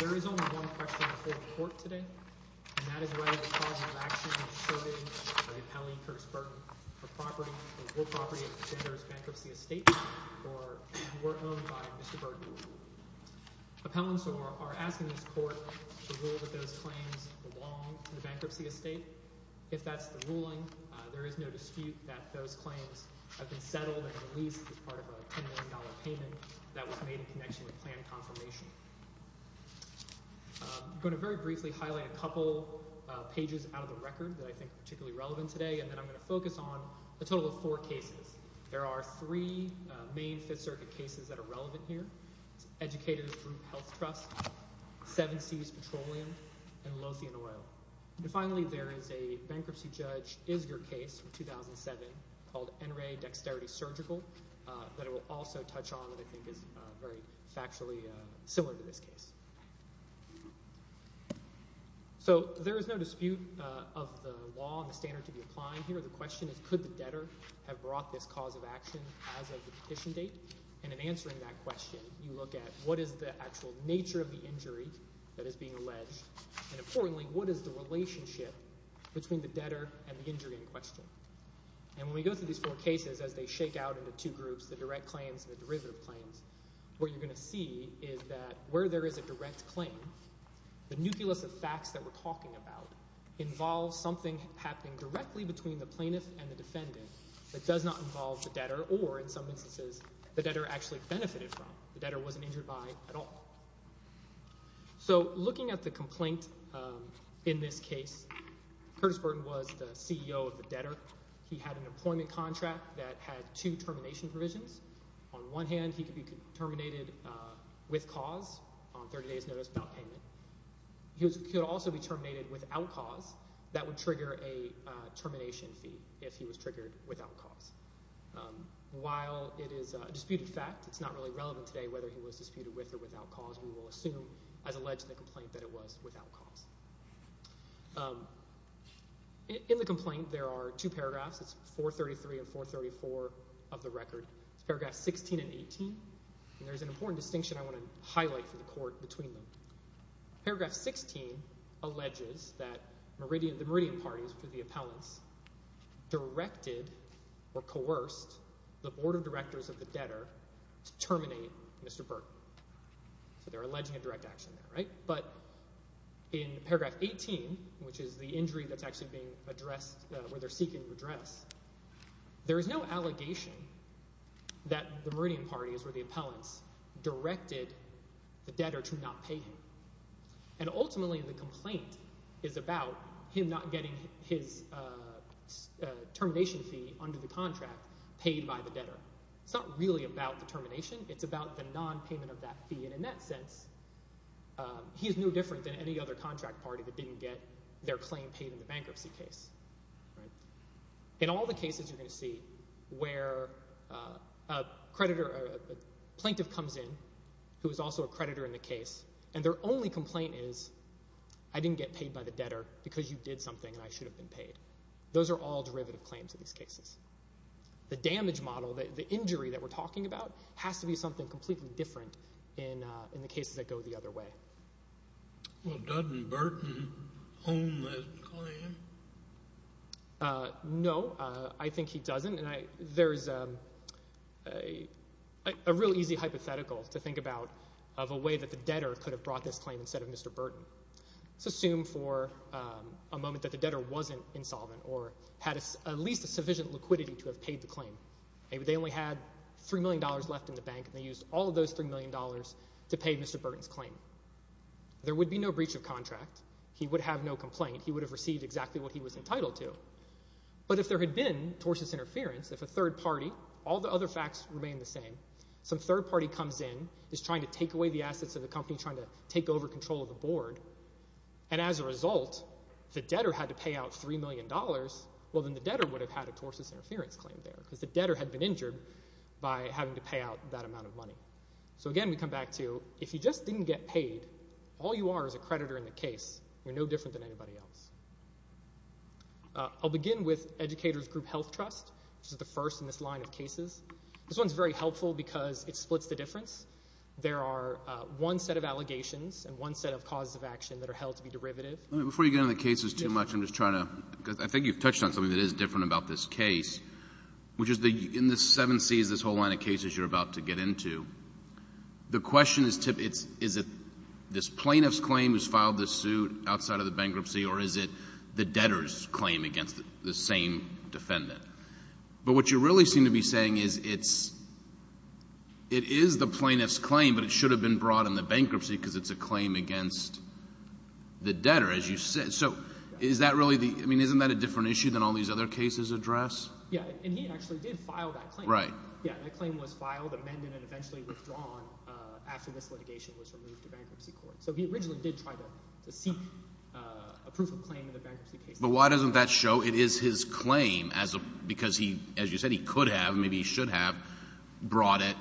There is only one question before the court today, and that is whether the cause of action is shirting or repelling Curtis Burton of property, or property of the defender's bankruptcy estate, or if it were owned by Mr. Burton. Appellants are asking this court to rule that those claims belong to the bankruptcy estate. If that's the ruling, there is no dispute that those claims have been settled and released as part of a $10 million payment that was made in connection with plan confirmation. I'm going to very briefly highlight a couple pages out of the record that I think are particularly relevant today, and then I'm going to focus on a total of four cases. There are three main Fifth Circuit cases that are relevant here. Educators Group Health Trust, Seven Seas Petroleum, and Lothian Oil. Finally, there is a bankruptcy judge Isger case from 2007 called NRA Dexterity Surgical that I will also touch on that I think is very factually similar to this case. There is no dispute of the law and the standard to be applied here. The question is could the debtor have brought this cause of action as of the petition date? In answering that question, you look at what is the actual nature of the injury that is being alleged, and importantly, what is the relationship between the debtor and the injury in question? When we go through these four cases as they shake out into two groups, the direct claims and the derivative claims, what you're going to see is that where there is a direct claim, the nucleus of facts that we're talking about involves something happening directly between the plaintiff and the defendant that does not involve the debtor or, in some instances, the debtor actually benefited from. The debtor wasn't injured by at all. So looking at the complaint in this case, Curtis Burton was the CEO of the debtor. He had an employment contract that had two termination provisions. On one hand, he could be terminated with cause on 30 days notice without payment. He could also be terminated without cause. That would trigger a termination fee if he was triggered without cause. While it is a disputed fact, it's not really relevant today whether he was disputed with or without cause. We will assume, as alleged in the complaint, that it was without cause. In the complaint, there are two paragraphs. It's 433 and 434 of the record. It's paragraphs 16 and 18, and there's an important distinction I want to highlight for the court between them. Paragraph 16 alleges that the Meridian Party, which is the appellants, directed or coerced the Board of Directors of the debtor to terminate Mr. Burton. So they're alleging a direct action there, right? But in paragraph 18, which is the injury that's actually being addressed, where they're seeking redress, there is no allegation that the Meridian Party, which is where the appellants, directed the debtor to not pay him. Ultimately, the complaint is about him not getting his termination fee under the contract paid by the debtor. It's not really about the termination. It's about the nonpayment of that fee, and in that sense, he is no different than any other contract party that didn't get their claim paid in the bankruptcy case. In all the cases you're going to see where a plaintiff comes in who is also a creditor in the case, and their only complaint is, I didn't get paid by the debtor because you did something and I should have been paid. Those are all derivative claims in these cases. The damage model, the injury that we're talking about, has to be something completely different in the cases that go the other way. Well, doesn't Burton own that claim? No, I think he doesn't. There is a real easy hypothetical to think about of a way that the debtor could have brought this claim instead of Mr. Burton. Let's assume for a moment that the debtor wasn't insolvent or had at least a sufficient liquidity to have paid the claim. Maybe they only had $3 million left in the bank and they used all of those $3 million to pay Mr. Burton's claim. There would be no breach of contract. He would have no complaint. He would have received exactly what he was entitled to. But if there had been tortious interference, if a third party, all the other facts remain the same, some third party comes in, is trying to take away the assets of the company, trying to take over control of the board, and as a result, the debtor had to pay out $3 million, well, then the debtor would have had a tortious interference claim there because the debtor had been injured by having to pay out that amount of money. So, again, we come back to if you just didn't get paid, all you are is a creditor in the case. You're no different than anybody else. I'll begin with Educators Group Health Trust, which is the first in this line of cases. This one is very helpful because it splits the difference. There are one set of allegations and one set of causes of action that are held to be derivative. Before you get into the cases too much, I'm just trying to, because I think you've touched on something that is different about this case, which is in the seven Cs, this whole line of cases you're about to get into, the question is, is it this plaintiff's claim who's filed this suit outside of the bankruptcy, or is it the debtor's claim against the same defendant? But what you really seem to be saying is it is the plaintiff's claim, but it should have been brought in the bankruptcy because it's a claim against the debtor, as you said. So isn't that a different issue than all these other cases address? Yeah, and he actually did file that claim. Right. Yeah, that claim was filed, amended, and eventually withdrawn after this litigation was removed to bankruptcy court. So he originally did try to seek a proof of claim in the bankruptcy case. But why doesn't that show it is his claim? Because he, as you said, he could have, maybe he should have brought it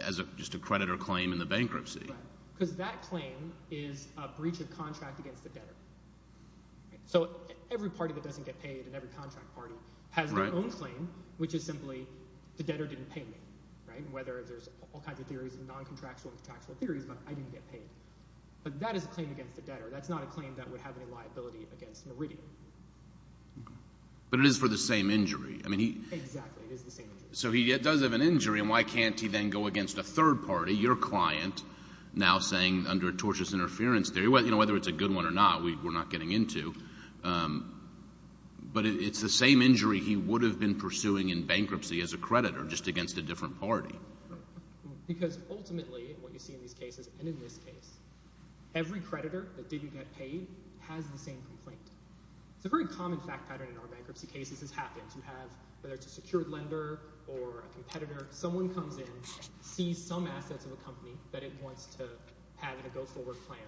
as just a credit or claim in the bankruptcy. Right, because that claim is a breach of contract against the debtor. So every party that doesn't get paid in every contract party has their own claim, which is simply the debtor didn't pay me, whether there's all kinds of theories, non-contractual and contractual theories about I didn't get paid. But that is a claim against the debtor. That's not a claim that would have any liability against Meridian. But it is for the same injury. Exactly, it is the same injury. So he does have an injury, and why can't he then go against a third party, your client, now saying under tortious interference theory, whether it's a good one or not, we're not getting into. But it's the same injury he would have been pursuing in bankruptcy as a creditor, just against a different party. Because ultimately, what you see in these cases, and in this case, every creditor that didn't get paid has the same complaint. It's a very common fact pattern in our bankruptcy cases has happened. You have, whether it's a secured lender or a competitor, someone comes in, sees some assets of a company that it wants to have in a go-forward plan.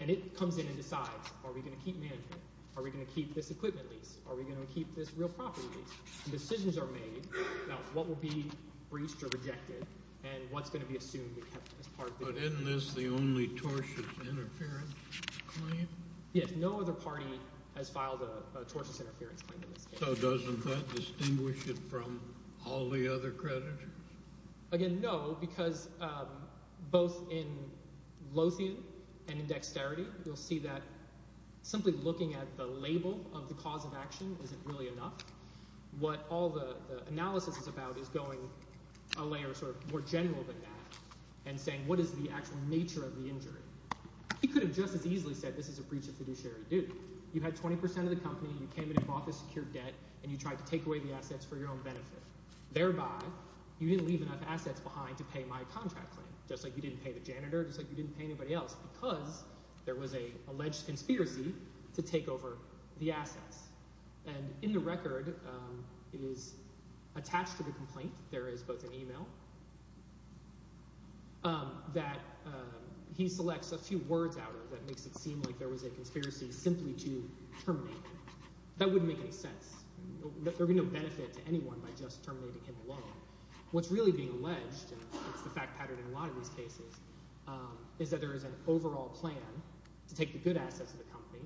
And it comes in and decides, are we going to keep management? Are we going to keep this equipment lease? Are we going to keep this real property lease? Decisions are made about what will be breached or rejected and what's going to be assumed as part of the— But isn't this the only tortious interference claim? Yes, no other party has filed a tortious interference claim in this case. So doesn't that distinguish it from all the other creditors? Again, no, because both in Lothian and in Dexterity, you'll see that simply looking at the label of the cause of action isn't really enough. What all the analysis is about is going a layer sort of more general than that and saying what is the actual nature of the injury. He could have just as easily said this is a breach of fiduciary duty. You had 20 percent of the company. You came in and bought the secured debt, and you tried to take away the assets for your own benefit. Thereby, you didn't leave enough assets behind to pay my contract claim, just like you didn't pay the janitor, just like you didn't pay anybody else, because there was an alleged conspiracy to take over the assets. And in the record, it is attached to the complaint. There is both an email that he selects a few words out of that makes it seem like there was a conspiracy simply to terminate him. That wouldn't make any sense. There would be no benefit to anyone by just terminating him alone. What's really being alleged, and it's the fact pattern in a lot of these cases, is that there is an overall plan to take the good assets of the company,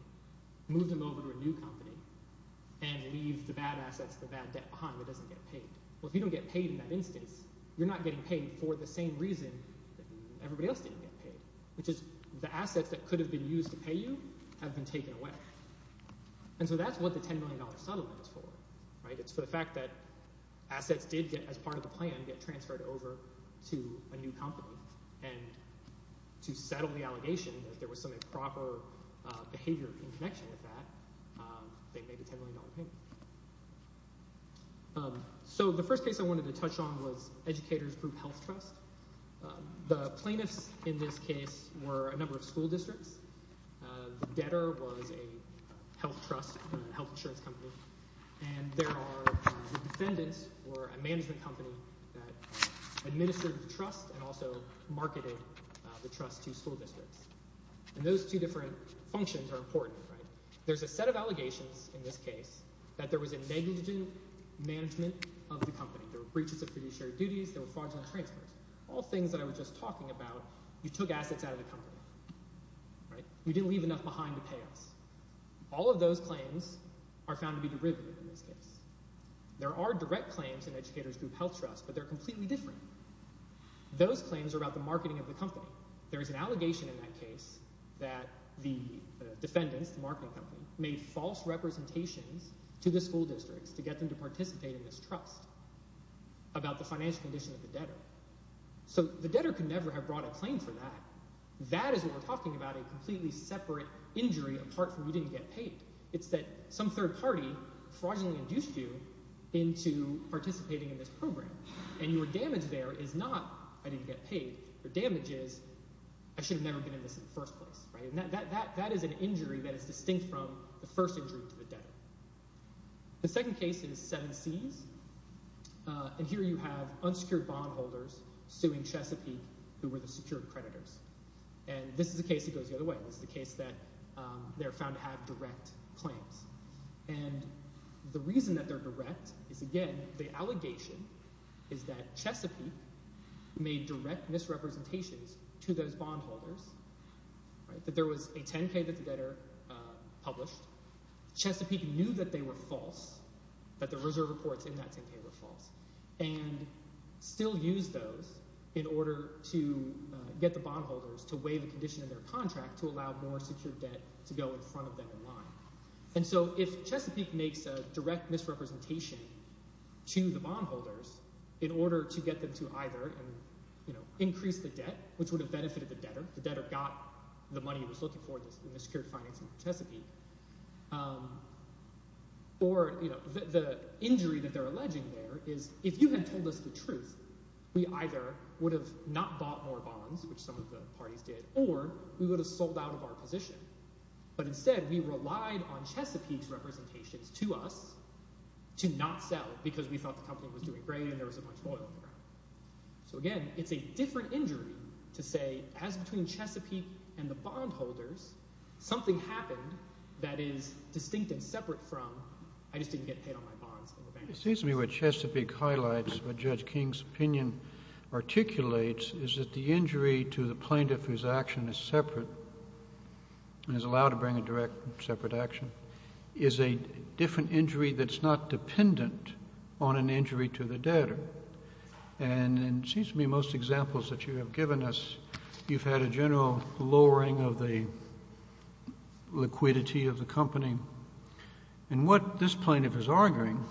move them over to a new company, and leave the bad assets, the bad debt behind that doesn't get paid. Well, if you don't get paid in that instance, you're not getting paid for the same reason that everybody else didn't get paid, which is the assets that could have been used to pay you have been taken away. And so that's what the $10 million settlement is for. It's for the fact that assets did, as part of the plan, get transferred over to a new company. And to settle the allegation that there was some improper behavior in connection with that, they made a $10 million payment. So the first case I wanted to touch on was Educators Group Health Trust. The plaintiffs in this case were a number of school districts. The debtor was a health trust, a health insurance company. And the defendants were a management company that administered the trust and also marketed the trust to school districts. And those two different functions are important. There's a set of allegations in this case that there was a negligent management of the company. There were breaches of fiduciary duties. There were fraudulent transfers. All things that I was just talking about, you took assets out of the company. You didn't leave enough behind to pay us. All of those claims are found to be derivative in this case. There are direct claims in Educators Group Health Trust, but they're completely different. Those claims are about the marketing of the company. There is an allegation in that case that the defendants, the marketing company, made false representations to the school districts to get them to participate in this trust about the financial condition of the debtor. So the debtor could never have brought a claim for that. That is what we're talking about, a completely separate injury apart from you didn't get paid. It's that some third party fraudulently induced you into participating in this program. And your damage there is not I didn't get paid. Your damage is I should have never been in this in the first place. That is an injury that is distinct from the first injury to the debtor. The second case is Seven Seas. And here you have unsecured bondholders suing Chesapeake, who were the secured creditors. And this is a case that goes the other way. This is a case that they're found to have direct claims. And the reason that they're direct is, again, the allegation is that Chesapeake made direct misrepresentations to those bondholders, that there was a 10-K that the debtor published. Chesapeake knew that they were false, that the reserve reports in that 10-K were false, and still used those in order to get the bondholders to waive a condition in their contract to allow more secured debt to go in front of them in line. And so if Chesapeake makes a direct misrepresentation to the bondholders in order to get them to either increase the debt, which would have benefited the debtor. The debtor got the money he was looking for in the secured financing of Chesapeake. Or the injury that they're alleging there is if you had told us the truth, we either would have not bought more bonds, which some of the parties did, or we would have sold out of our position. But instead, we relied on Chesapeake's representations to us to not sell because we thought the company was doing great and there wasn't much oil in the ground. So again, it's a different injury to say, as between Chesapeake and the bondholders, something happened that is distinct and separate from I just didn't get paid on my bonds. It seems to me what Chesapeake highlights, what Judge King's opinion articulates, is that the injury to the plaintiff whose action is separate and is allowed to bring a direct separate action is a different injury that's not dependent on an injury to the debtor. And it seems to me most examples that you have given us, you've had a general lowering of the liquidity of the company. And what this plaintiff is arguing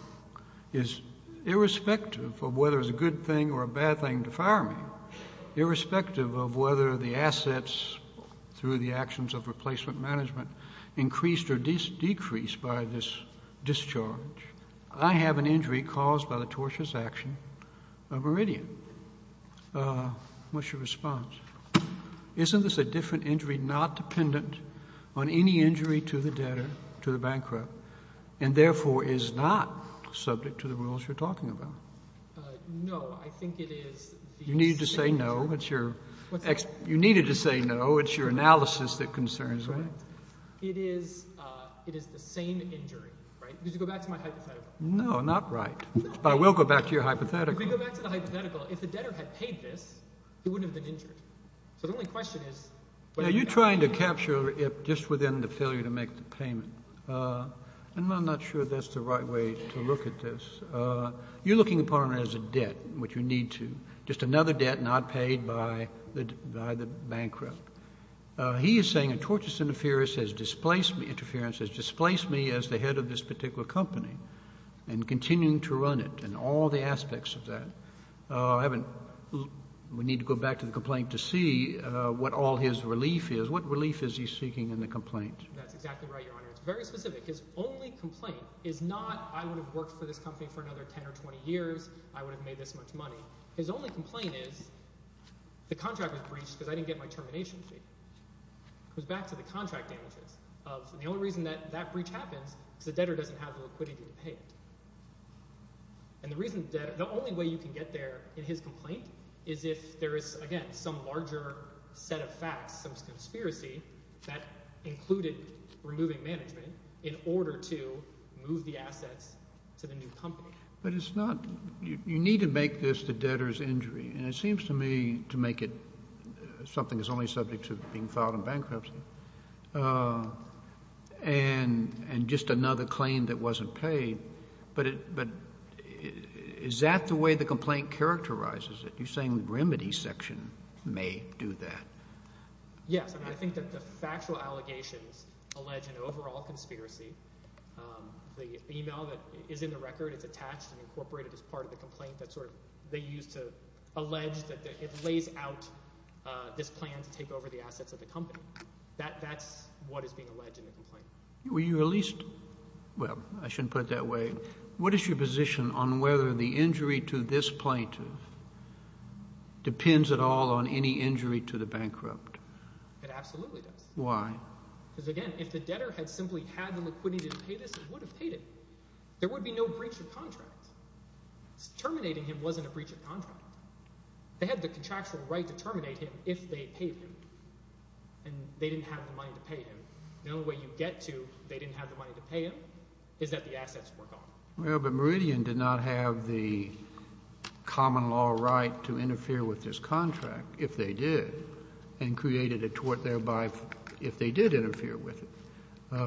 is irrespective of whether it's a good thing or a bad thing to fire me, irrespective of whether the assets through the actions of replacement management increased or decreased by this discharge, I have an injury caused by the tortious action of Meridian. What's your response? Isn't this a different injury not dependent on any injury to the debtor, to the bankrupt, and therefore is not subject to the rules you're talking about? No, I think it is the same. You needed to say no. You needed to say no. It's your analysis that concerns me. It is the same injury. Did you go back to my hypothetical? No, not right. But I will go back to your hypothetical. If we go back to the hypothetical, if the debtor had paid this, he wouldn't have been injured. So the only question is – You're trying to capture it just within the failure to make the payment. I'm not sure that's the right way to look at this. You're looking upon it as a debt, which you need to, just another debt not paid by the bankrupt. He is saying a tortious interference has displaced me as the head of this particular company and continuing to run it and all the aspects of that. We need to go back to the complaint to see what all his relief is. What relief is he seeking in the complaint? That's exactly right, Your Honor. It's very specific. His only complaint is not I would have worked for this company for another 10 or 20 years. I would have made this much money. His only complaint is the contract was breached because I didn't get my termination fee. It goes back to the contract damages. The only reason that that breach happens is the debtor doesn't have the liquidity to pay it. And the only way you can get there in his complaint is if there is, again, some larger set of facts, some conspiracy that included removing management in order to move the assets to the new company. But it's not – you need to make this the debtor's injury, and it seems to me to make it something that's only subject to being filed in bankruptcy and just another claim that wasn't paid. But is that the way the complaint characterizes it? You're saying the remedy section may do that. Yes. I mean I think that the factual allegations allege an overall conspiracy. The email that is in the record is attached and incorporated as part of the complaint that sort of they used to allege that it lays out this plan to take over the assets of the company. That's what is being alleged in the complaint. Were you at least – well, I shouldn't put it that way. What is your position on whether the injury to this plaintiff depends at all on any injury to the bankrupt? It absolutely does. Why? Because, again, if the debtor had simply had the liquidity to pay this, he would have paid it. There would be no breach of contract. Terminating him wasn't a breach of contract. They had the contractual right to terminate him if they paid him, and they didn't have the money to pay him. The only way you get to they didn't have the money to pay him is that the assets were gone. Well, but Meridian did not have the common law right to interfere with this contract, if they did, and created a tort thereby if they did interfere with it,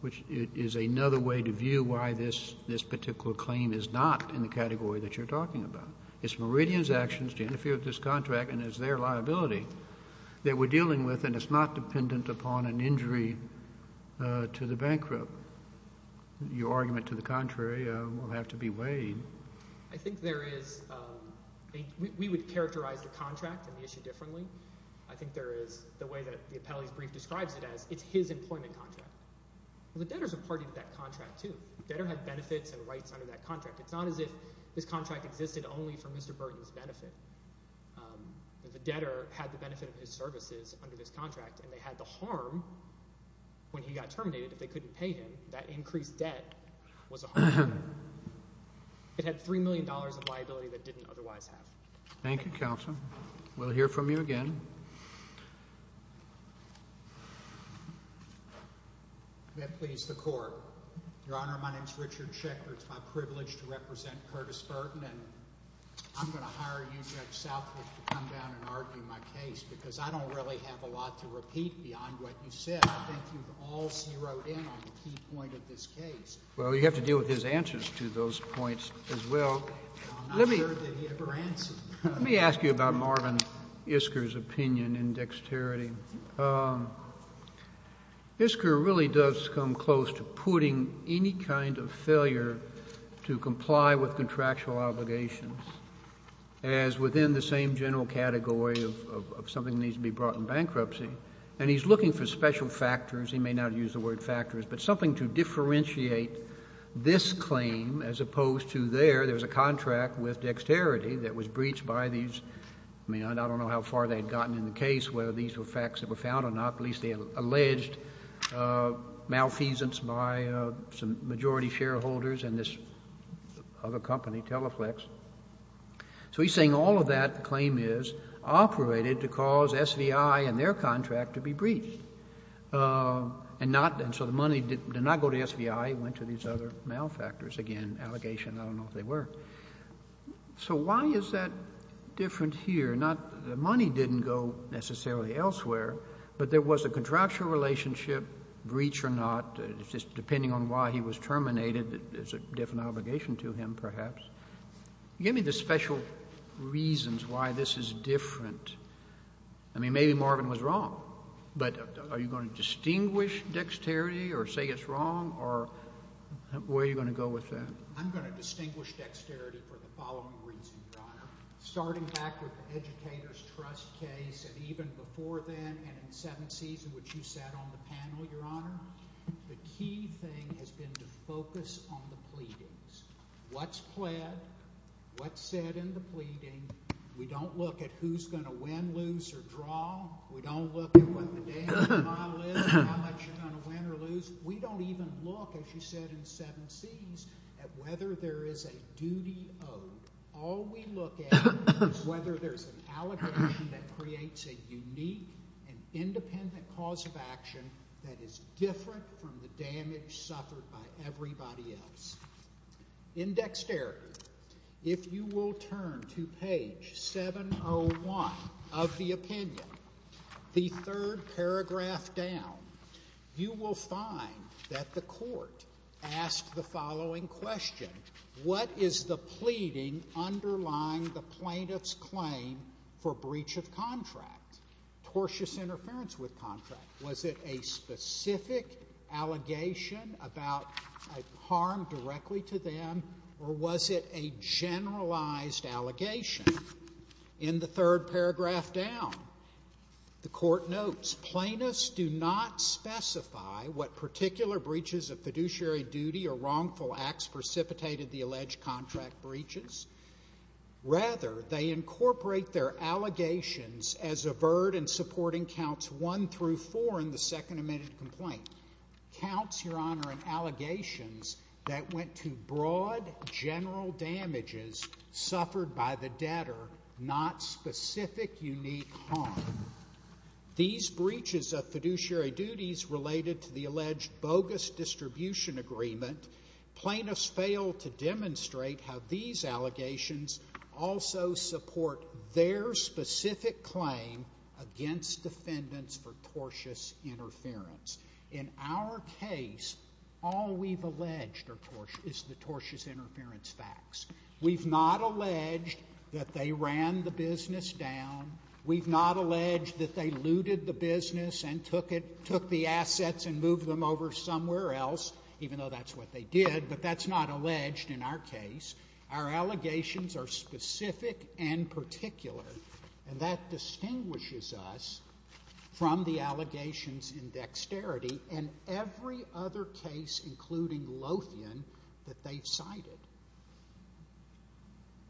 which is another way to view why this particular claim is not in the category that you're talking about. It's Meridian's actions to interfere with this contract, and it's their liability that we're dealing with, and it's not dependent upon an injury to the bankrupt. Your argument to the contrary will have to be weighed. I think there is – we would characterize the contract and the issue differently. I think there is the way that the appellee's brief describes it as it's his employment contract. The debtor is a party to that contract, too. The debtor had benefits and rights under that contract. It's not as if this contract existed only for Mr. Burton's benefit. The debtor had the benefit of his services under this contract, and they had the harm when he got terminated if they couldn't pay him. That increased debt was a harm. It had $3 million of liability that it didn't otherwise have. Thank you, counsel. We'll hear from you again. May it please the court. Your Honor, my name is Richard Schechter. It's my privilege to represent Curtis Burton, and I'm going to hire you, Judge Southwood, to come down and argue my case because I don't really have a lot to repeat beyond what you said. I think you've all zeroed in on the key point of this case. Well, you have to deal with his answers to those points as well. I'm not sure that he ever answered. Let me ask you about Marvin Isker's opinion in dexterity. Isker really does come close to putting any kind of failure to comply with contractual obligations as within the same general category of something that needs to be brought in bankruptcy. And he's looking for special factors. He may not use the word factors, but something to differentiate this claim as opposed to there. There was a contract with dexterity that was breached by these. I mean, I don't know how far they had gotten in the case, whether these were facts that were found or not. At least they alleged malfeasance by some majority shareholders and this other company, Teleflex. So he's saying all of that claim is operated to cause SVI and their contract to be breached. And so the money did not go to SVI. It went to these other malfactors. I don't know if they were. So why is that different here? The money didn't go necessarily elsewhere, but there was a contractual relationship, breach or not. It's just depending on why he was terminated, it's a different obligation to him perhaps. Give me the special reasons why this is different. I mean, maybe Marvin was wrong. But are you going to distinguish dexterity or say it's wrong or where are you going to go with that? I'm going to distinguish dexterity for the following reason, Your Honor. Starting back with the Educators Trust case and even before then and in seventh season, which you sat on the panel, Your Honor, the key thing has been to focus on the pleadings. What's pled? What's said in the pleading? We don't look at who's going to win, lose or draw. We don't look at what the damage model is, how much you're going to win or lose. We don't even look, as you said in seven seas, at whether there is a duty owed. All we look at is whether there's an allegation that creates a unique and independent cause of action that is different from the damage suffered by everybody else. In dexterity, if you will turn to page 701 of the opinion, the third paragraph down, you will find that the court asked the following question. What is the pleading underlying the plaintiff's claim for breach of contract? Tortious interference with contract. Was it a specific allegation about harm directly to them or was it a generalized allegation? In the third paragraph down, the court notes plaintiffs do not specify what particular breaches of fiduciary duty or wrongful acts precipitated the alleged contract breaches. Rather, they incorporate their allegations as averred in supporting counts one through four in the second amended complaint. Counts, Your Honor, in allegations that went to broad general damages suffered by the debtor, not specific unique harm. These breaches of fiduciary duties related to the alleged bogus distribution agreement, plaintiffs fail to demonstrate how these allegations also support their specific claim against defendants for tortious interference. In our case, all we've alleged is the tortious interference facts. We've not alleged that they ran the business down. We've not alleged that they looted the business and took the assets and moved them over somewhere else, even though that's what they did, but that's not alleged in our case. Our allegations are specific and particular, and that distinguishes us from the allegations in Dexterity and every other case, including Lothian, that they've cited.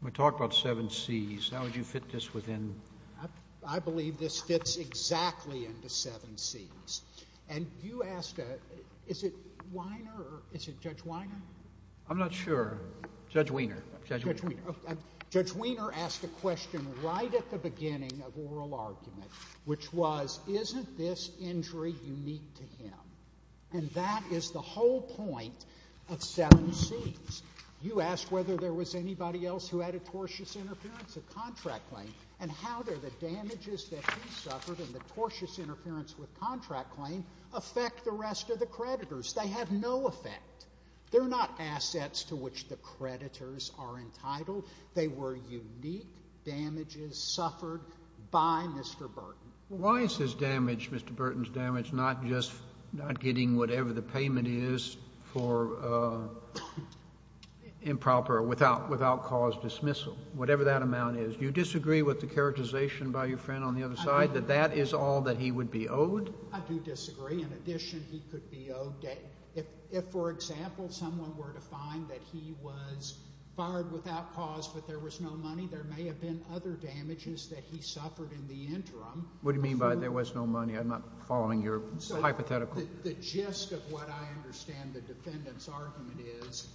We talked about seven C's. How would you fit this within? I believe this fits exactly into seven C's. And you asked, is it Weiner or is it Judge Weiner? I'm not sure. Judge Weiner. Judge Weiner. Judge Weiner asked a question right at the beginning of oral argument, which was, isn't this injury unique to him? And that is the whole point of seven C's. You asked whether there was anybody else who had a tortious interference with contract claim and how the damages that he suffered in the tortious interference with contract claim affect the rest of the creditors. They have no effect. They're not assets to which the creditors are entitled. They were unique damages suffered by Mr. Burton. Why is his damage, Mr. Burton's damage, not just not getting whatever the payment is for improper without cause dismissal, whatever that amount is? Do you disagree with the characterization by your friend on the other side that that is all that he would be owed? I do disagree. In addition, he could be owed. If, for example, someone were to find that he was fired without cause but there was no money, there may have been other damages that he suffered in the interim. What do you mean by there was no money? I'm not following your hypothetical. The gist of what I understand the defendant's argument is,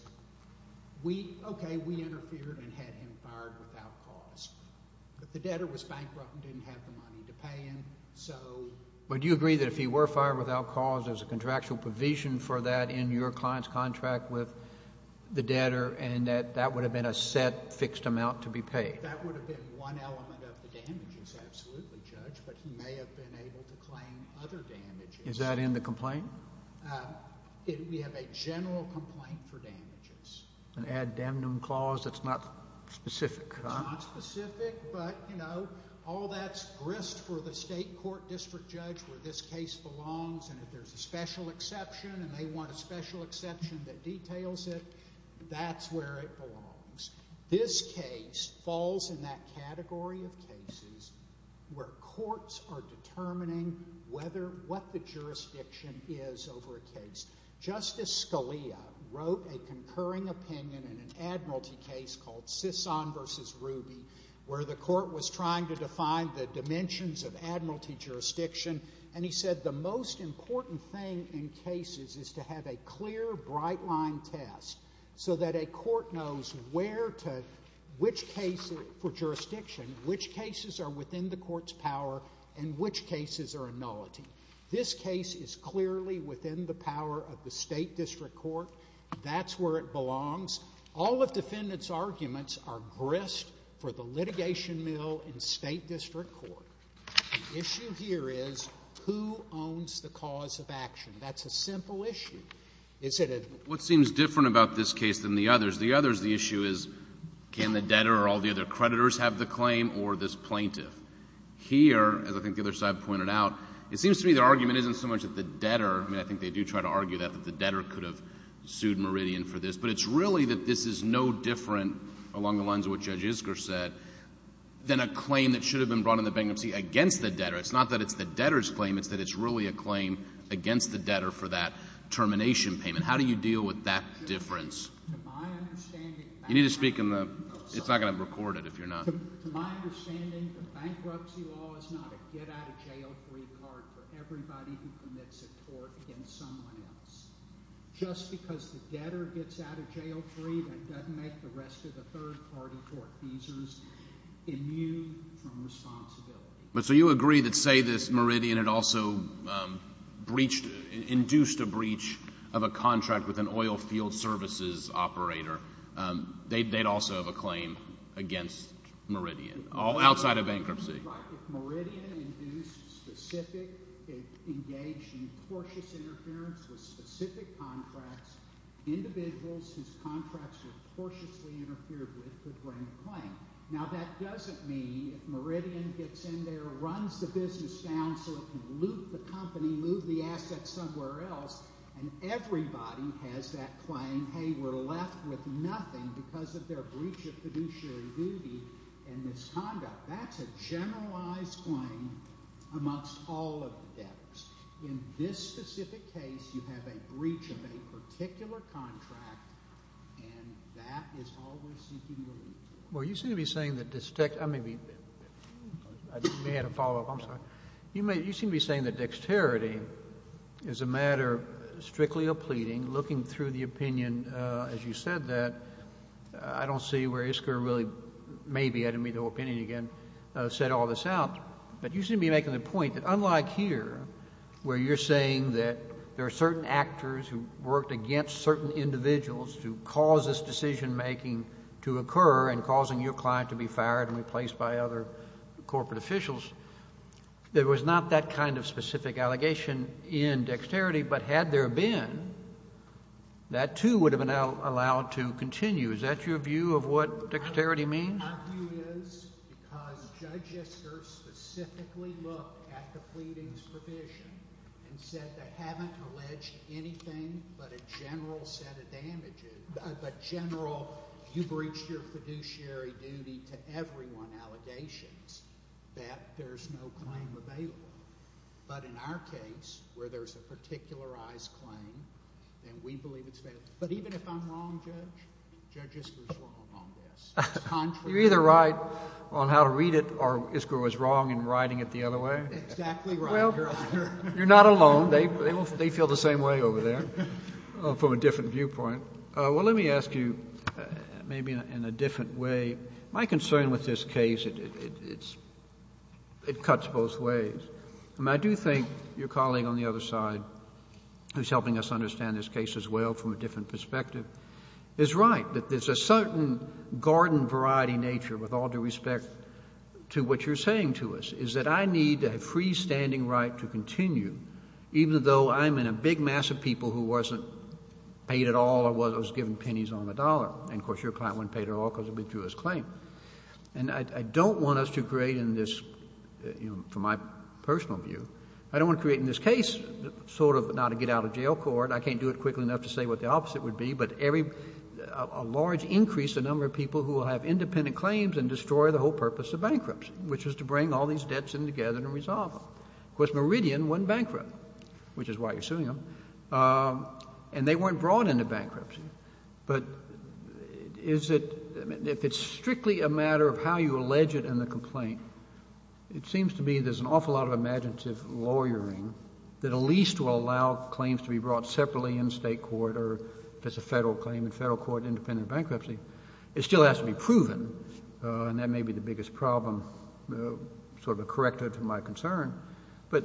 okay, we interfered and had him fired without cause. But the debtor was bankrupt and didn't have the money to pay him. But do you agree that if he were fired without cause, there's a contractual provision for that in your client's contract with the debtor and that that would have been a set fixed amount to be paid? That would have been one element of the damages, absolutely, Judge, but he may have been able to claim other damages. Is that in the complaint? We have a general complaint for damages. An ad demnum clause that's not specific, huh? It's not specific, but, you know, all that's grist for the state court district judge where this case belongs and if there's a special exception and they want a special exception that details it, that's where it belongs. This case falls in that category of cases where courts are determining whether what the jurisdiction is over a case. Justice Scalia wrote a concurring opinion in an admiralty case called Sison v. Ruby where the court was trying to define the dimensions of admiralty jurisdiction and he said the most important thing in cases is to have a clear, bright-line test so that a court knows where to, which case for jurisdiction, which cases are within the court's power and which cases are a nullity. This case is clearly within the power of the state district court. That's where it belongs. All of defendant's arguments are grist for the litigation mill in state district court. The issue here is who owns the cause of action? That's a simple issue. Is it a — What seems different about this case than the others? The others, the issue is can the debtor or all the other creditors have the claim or this plaintiff? Here, as I think the other side pointed out, it seems to me the argument isn't so much that the debtor, I mean, I think they do try to argue that, that the debtor could have sued Meridian for this, but it's really that this is no different along the lines of what Judge Isker said than a claim that should have been brought in the bankruptcy against the debtor. It's not that it's the debtor's claim. It's that it's really a claim against the debtor for that termination payment. How do you deal with that difference? To my understanding — You need to speak in the — it's not going to record it if you're not — To my understanding, the bankruptcy law is not a get-out-of-jail-free card for everybody who commits a tort against someone else. Just because the debtor gets out of jail free, that doesn't make the rest of the third-party tort users immune from responsibility. But so you agree that, say, this Meridian had also breached, induced a breach of a contract with an oil field services operator, they'd also have a claim against Meridian, all outside of bankruptcy. Right. If Meridian induced specific — engaged in cautious interference with specific contracts, individuals whose contracts were cautiously interfered with could bring a claim. Now, that doesn't mean if Meridian gets in there, runs the business down so it can loot the company, loot the assets somewhere else, and everybody has that claim, hey, we're left with nothing because of their breach of fiduciary duty and misconduct. That's a generalized claim amongst all of the debtors. In this specific case, you have a breach of a particular contract, and that is all we're seeking relief from. Well, you seem to be saying that — I may be — you may have a follow-up. I'm sorry. You seem to be saying that dexterity is a matter strictly of pleading, looking through the opinion. And as you said that, I don't see where ISCR really — maybe I didn't meet the whole opinion again — set all this out. But you seem to be making the point that unlike here, where you're saying that there are certain actors who worked against certain individuals to cause this decision-making to occur and causing your client to be fired and replaced by other corporate officials, there was not that kind of specific allegation in dexterity. But had there been, that too would have been allowed to continue. Is that your view of what dexterity means? My view is because Judge Isker specifically looked at the pleadings provision and said they haven't alleged anything but a general set of damages, but general you breached your fiduciary duty to everyone allegations that there's no claim available. But in our case, where there's a particularized claim, and we believe it's failed. But even if I'm wrong, Judge, Judge Isker's wrong on this. It's contrary. You're either right on how to read it or Isker was wrong in writing it the other way. Exactly right, Your Honor. Well, you're not alone. They feel the same way over there from a different viewpoint. Well, let me ask you maybe in a different way. My concern with this case, it cuts both ways. I do think your colleague on the other side, who's helping us understand this case as well from a different perspective, is right that there's a certain garden variety nature with all due respect to what you're saying to us, is that I need a freestanding right to continue, even though I'm in a big mass of people who wasn't paid at all or was given pennies on the dollar. And, of course, your client wasn't paid at all because of his claim. And I don't want us to create in this, from my personal view, I don't want to create in this case sort of not a get out of jail court. I can't do it quickly enough to say what the opposite would be, but a large increase in the number of people who will have independent claims and destroy the whole purpose of bankruptcy, which is to bring all these debts in together and resolve them. Of course, Meridian wasn't bankrupt, which is why you're suing them. And they weren't brought into bankruptcy. But if it's strictly a matter of how you allege it in the complaint, it seems to me there's an awful lot of imaginative lawyering that at least will allow claims to be brought separately in state court or if it's a federal claim in federal court, independent bankruptcy. It still has to be proven. And that may be the biggest problem, sort of a corrector to my concern. But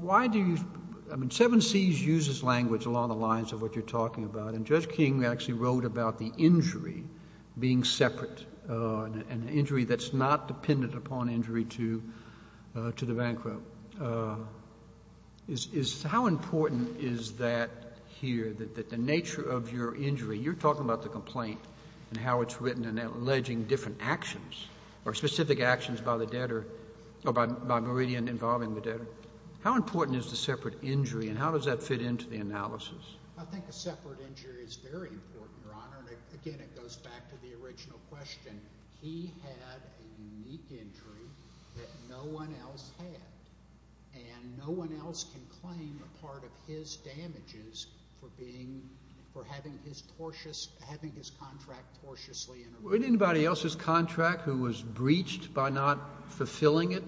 why do you – I mean, 7Cs uses language along the lines of what you're talking about. And Judge King actually wrote about the injury being separate, an injury that's not dependent upon injury to the bankrupt. How important is that here, that the nature of your injury – you're talking about the complaint and how it's written and alleging different actions or specific actions by the debtor or by Meridian involving the debtor. How important is the separate injury, and how does that fit into the analysis? I think a separate injury is very important, Your Honor. And again, it goes back to the original question. He had a unique injury that no one else had, and no one else can claim a part of his damages for having his contract tortiously interfered with. Would anybody else's contract who was breached by not fulfilling it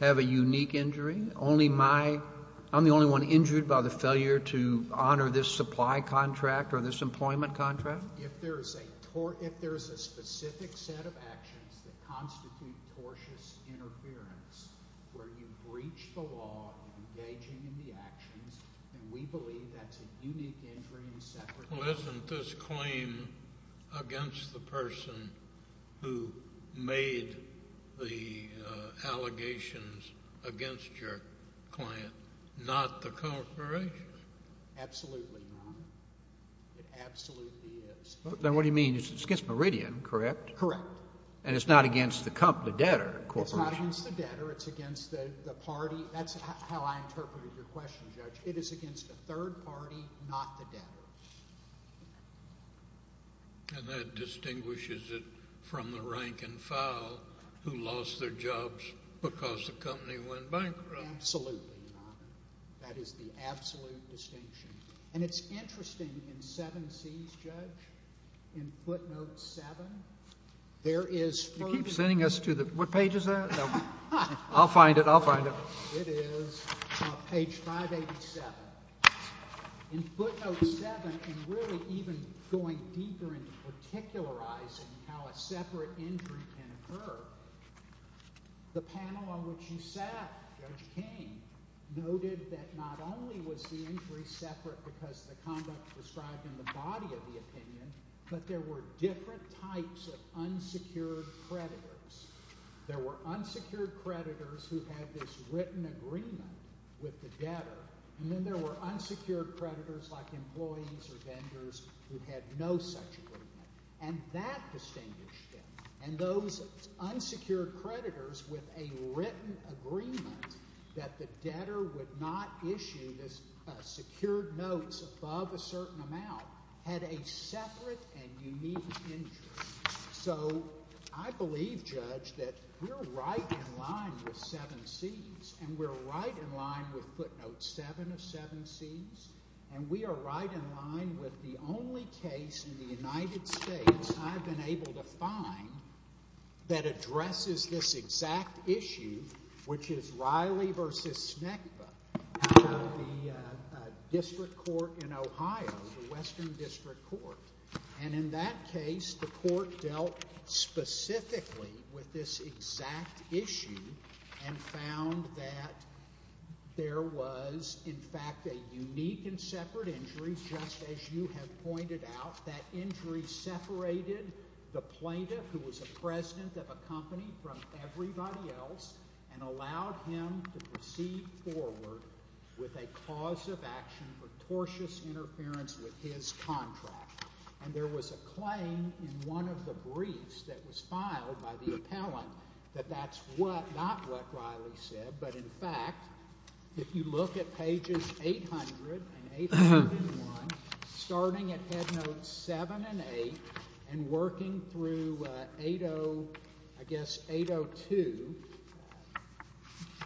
have a unique injury? Only my – I'm the only one injured by the failure to honor this supply contract or this employment contract? If there is a specific set of actions that constitute tortious interference where you breach the law engaging in the actions, then we believe that's a unique injury and a separate injury. Well, isn't this claim against the person who made the allegations against your client not the corporation? Absolutely not. It absolutely is. Then what do you mean? It's against Meridian, correct? Correct. And it's not against the debtor corporation? It's not against the debtor. It's against the party. That's how I interpreted your question, Judge. It is against the third party, not the debtor. And that distinguishes it from the rank and file who lost their jobs because the company went bankrupt. Absolutely not. That is the absolute distinction. And it's interesting in 7Cs, Judge, in footnote 7, there is further— You keep sending us to the—what page is that? I'll find it. I'll find it. It is page 587. In footnote 7, and really even going deeper into particularizing how a separate injury can occur, the panel on which you sat, Judge King, noted that not only was the injury separate because the conduct was described in the body of the opinion, but there were different types of unsecured creditors. There were unsecured creditors who had this written agreement with the debtor. And then there were unsecured creditors like employees or vendors who had no such agreement. And that distinguished it. And those unsecured creditors with a written agreement that the debtor would not issue secured notes above a certain amount had a separate and unique injury. So I believe, Judge, that we're right in line with 7Cs, and we're right in line with footnote 7 of 7Cs, and we are right in line with the only case in the United States I've been able to find that addresses this exact issue, which is Riley v. Snekva out of the district court in Ohio, the Western District Court. And in that case, the court dealt specifically with this exact issue and found that there was, in fact, a unique and separate injury, just as you have pointed out. That injury separated the plaintiff, who was a president of a company, from everybody else and allowed him to proceed forward with a cause of action for tortious interference with his contract. And there was a claim in one of the briefs that was filed by the appellant that that's not what Riley said. But, in fact, if you look at pages 800 and 801, starting at headnotes 7 and 8 and working through, I guess, 802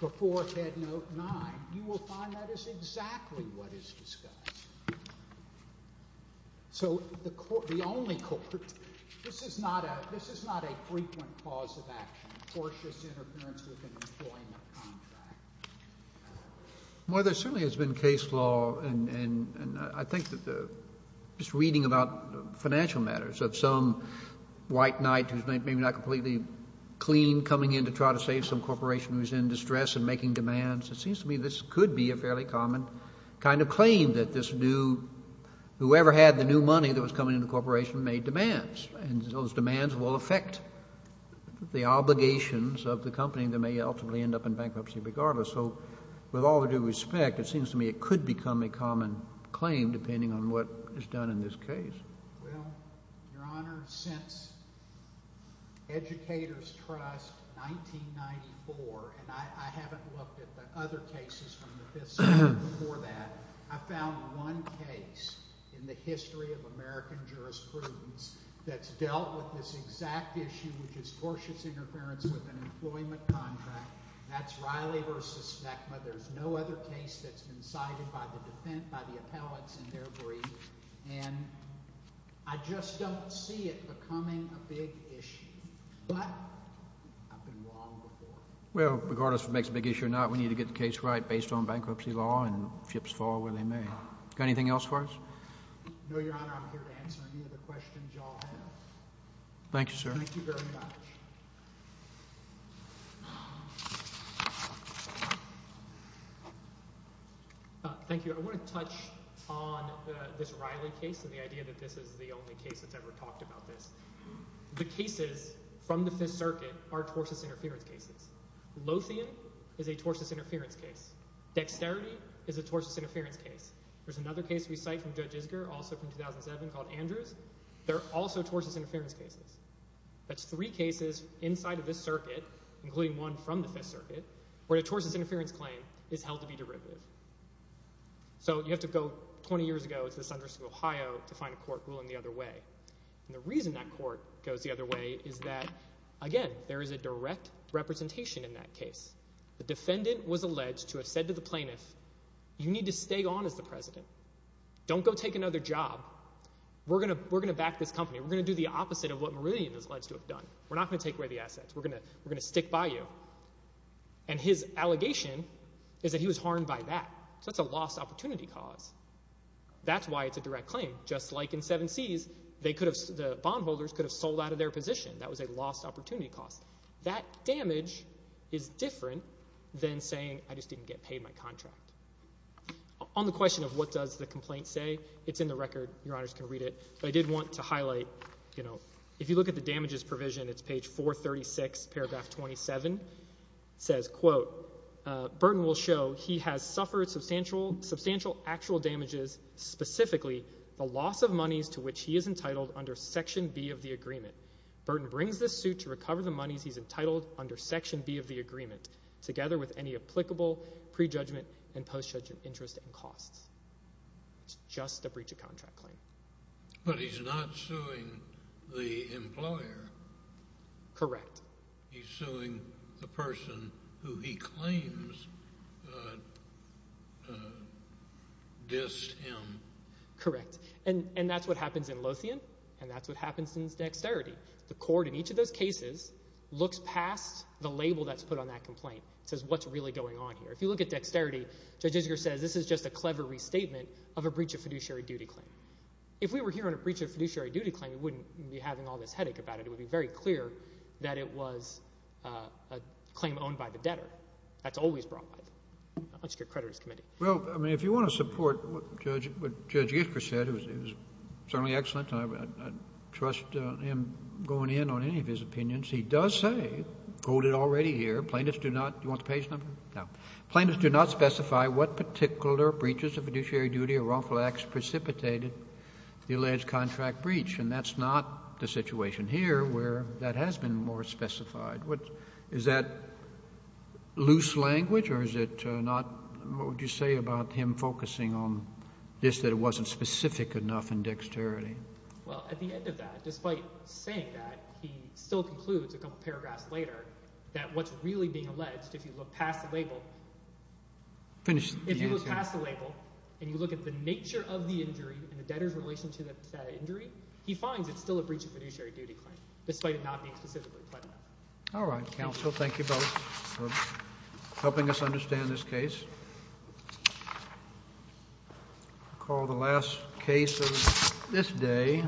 before headnote 9, you will find that is exactly what is discussed. So the only court, this is not a frequent cause of action, tortious interference with an employment contract. Well, there certainly has been case law, and I think that just reading about financial matters, of some white knight who's maybe not completely clean coming in to try to save some corporation who's in distress and making demands, it seems to me this could be a fairly common kind of claim that this new, whoever had the new money that was coming into the corporation made demands. And those demands will affect the obligations of the company that may ultimately end up in bankruptcy regardless. So with all due respect, it seems to me it could become a common claim depending on what is done in this case. Well, Your Honor, since Educators Trust 1994, and I haven't looked at the other cases from the Fifth Circuit before that, I found one case in the history of American jurisprudence that's dealt with this exact issue, which is tortious interference with an employment contract. That's Riley v. Stekma. There's no other case that's been cited by the defense, by the appellants in their brief. And I just don't see it becoming a big issue. But I've been wrong before. Well, regardless of what makes a big issue or not, we need to get the case right based on bankruptcy law and ships fall where they may. Got anything else for us? No, Your Honor. I'm here to answer any of the questions you all have. Thank you, sir. Thank you very much. Thank you. I want to touch on this Riley case and the idea that this is the only case that's ever talked about this. The cases from the Fifth Circuit are tortious interference cases. Lothian is a tortious interference case. Dexterity is a tortious interference case. There's another case we cite from Judge Isger, also from 2007, called Andrews. They're also tortious interference cases. That's three cases inside of this circuit, including one from the Fifth Circuit, where a tortious interference claim is held to be derivative. So you have to go 20 years ago to the Sunders of Ohio to find a court ruling the other way. And the reason that court goes the other way is that, again, there is a direct representation in that case. The defendant was alleged to have said to the plaintiff, you need to stay on as the president. Don't go take another job. We're going to back this company. We're going to do the opposite of what Meridian is alleged to have done. We're not going to take away the assets. We're going to stick by you. And his allegation is that he was harmed by that. So that's a lost opportunity cause. That's why it's a direct claim. Just like in Seven Seas, the bondholders could have sold out of their position. That was a lost opportunity cause. That damage is different than saying I just didn't get paid my contract. On the question of what does the complaint say, it's in the record. Your Honors can read it. I did want to highlight, you know, if you look at the damages provision, it's page 436, paragraph 27. It says, quote, Burton will show he has suffered substantial actual damages, specifically the loss of monies to which he is entitled under section B of the agreement. Burton brings this suit to recover the monies he's entitled under section B of the agreement, together with any applicable prejudgment and postjudgment interest and costs. It's just a breach of contract claim. But he's not suing the employer. Correct. He's suing the person who he claims dissed him. Correct. And that's what happens in Lothian, and that's what happens in dexterity. The court in each of those cases looks past the label that's put on that complaint. It says what's really going on here. If you look at dexterity, Judge Isker says this is just a clever restatement of a breach of fiduciary duty claim. If we were here on a breach of fiduciary duty claim, we wouldn't be having all this headache about it. It would be very clear that it was a claim owned by the debtor. That's always brought by the Unstricted Creditors Committee. Well, I mean if you want to support what Judge Isker said, it was certainly excellent. I trust him going in on any of his opinions. He does say, quote it already here, plaintiffs do not. Do you want the page number? No. Plaintiffs do not specify what particular breaches of fiduciary duty or wrongful acts precipitated the alleged contract breach, and that's not the situation here where that has been more specified. Is that loose language or is it not? What would you say about him focusing on this that it wasn't specific enough in dexterity? Well, at the end of that, despite saying that, he still concludes a couple paragraphs later that what's really being alleged, if you look past the label, and you look at the nature of the injury and the debtor's relation to that injury, he finds it's still a breach of fiduciary duty claim despite it not being specifically claimed. All right, counsel. Thank you both for helping us understand this case. I call the last case of this day.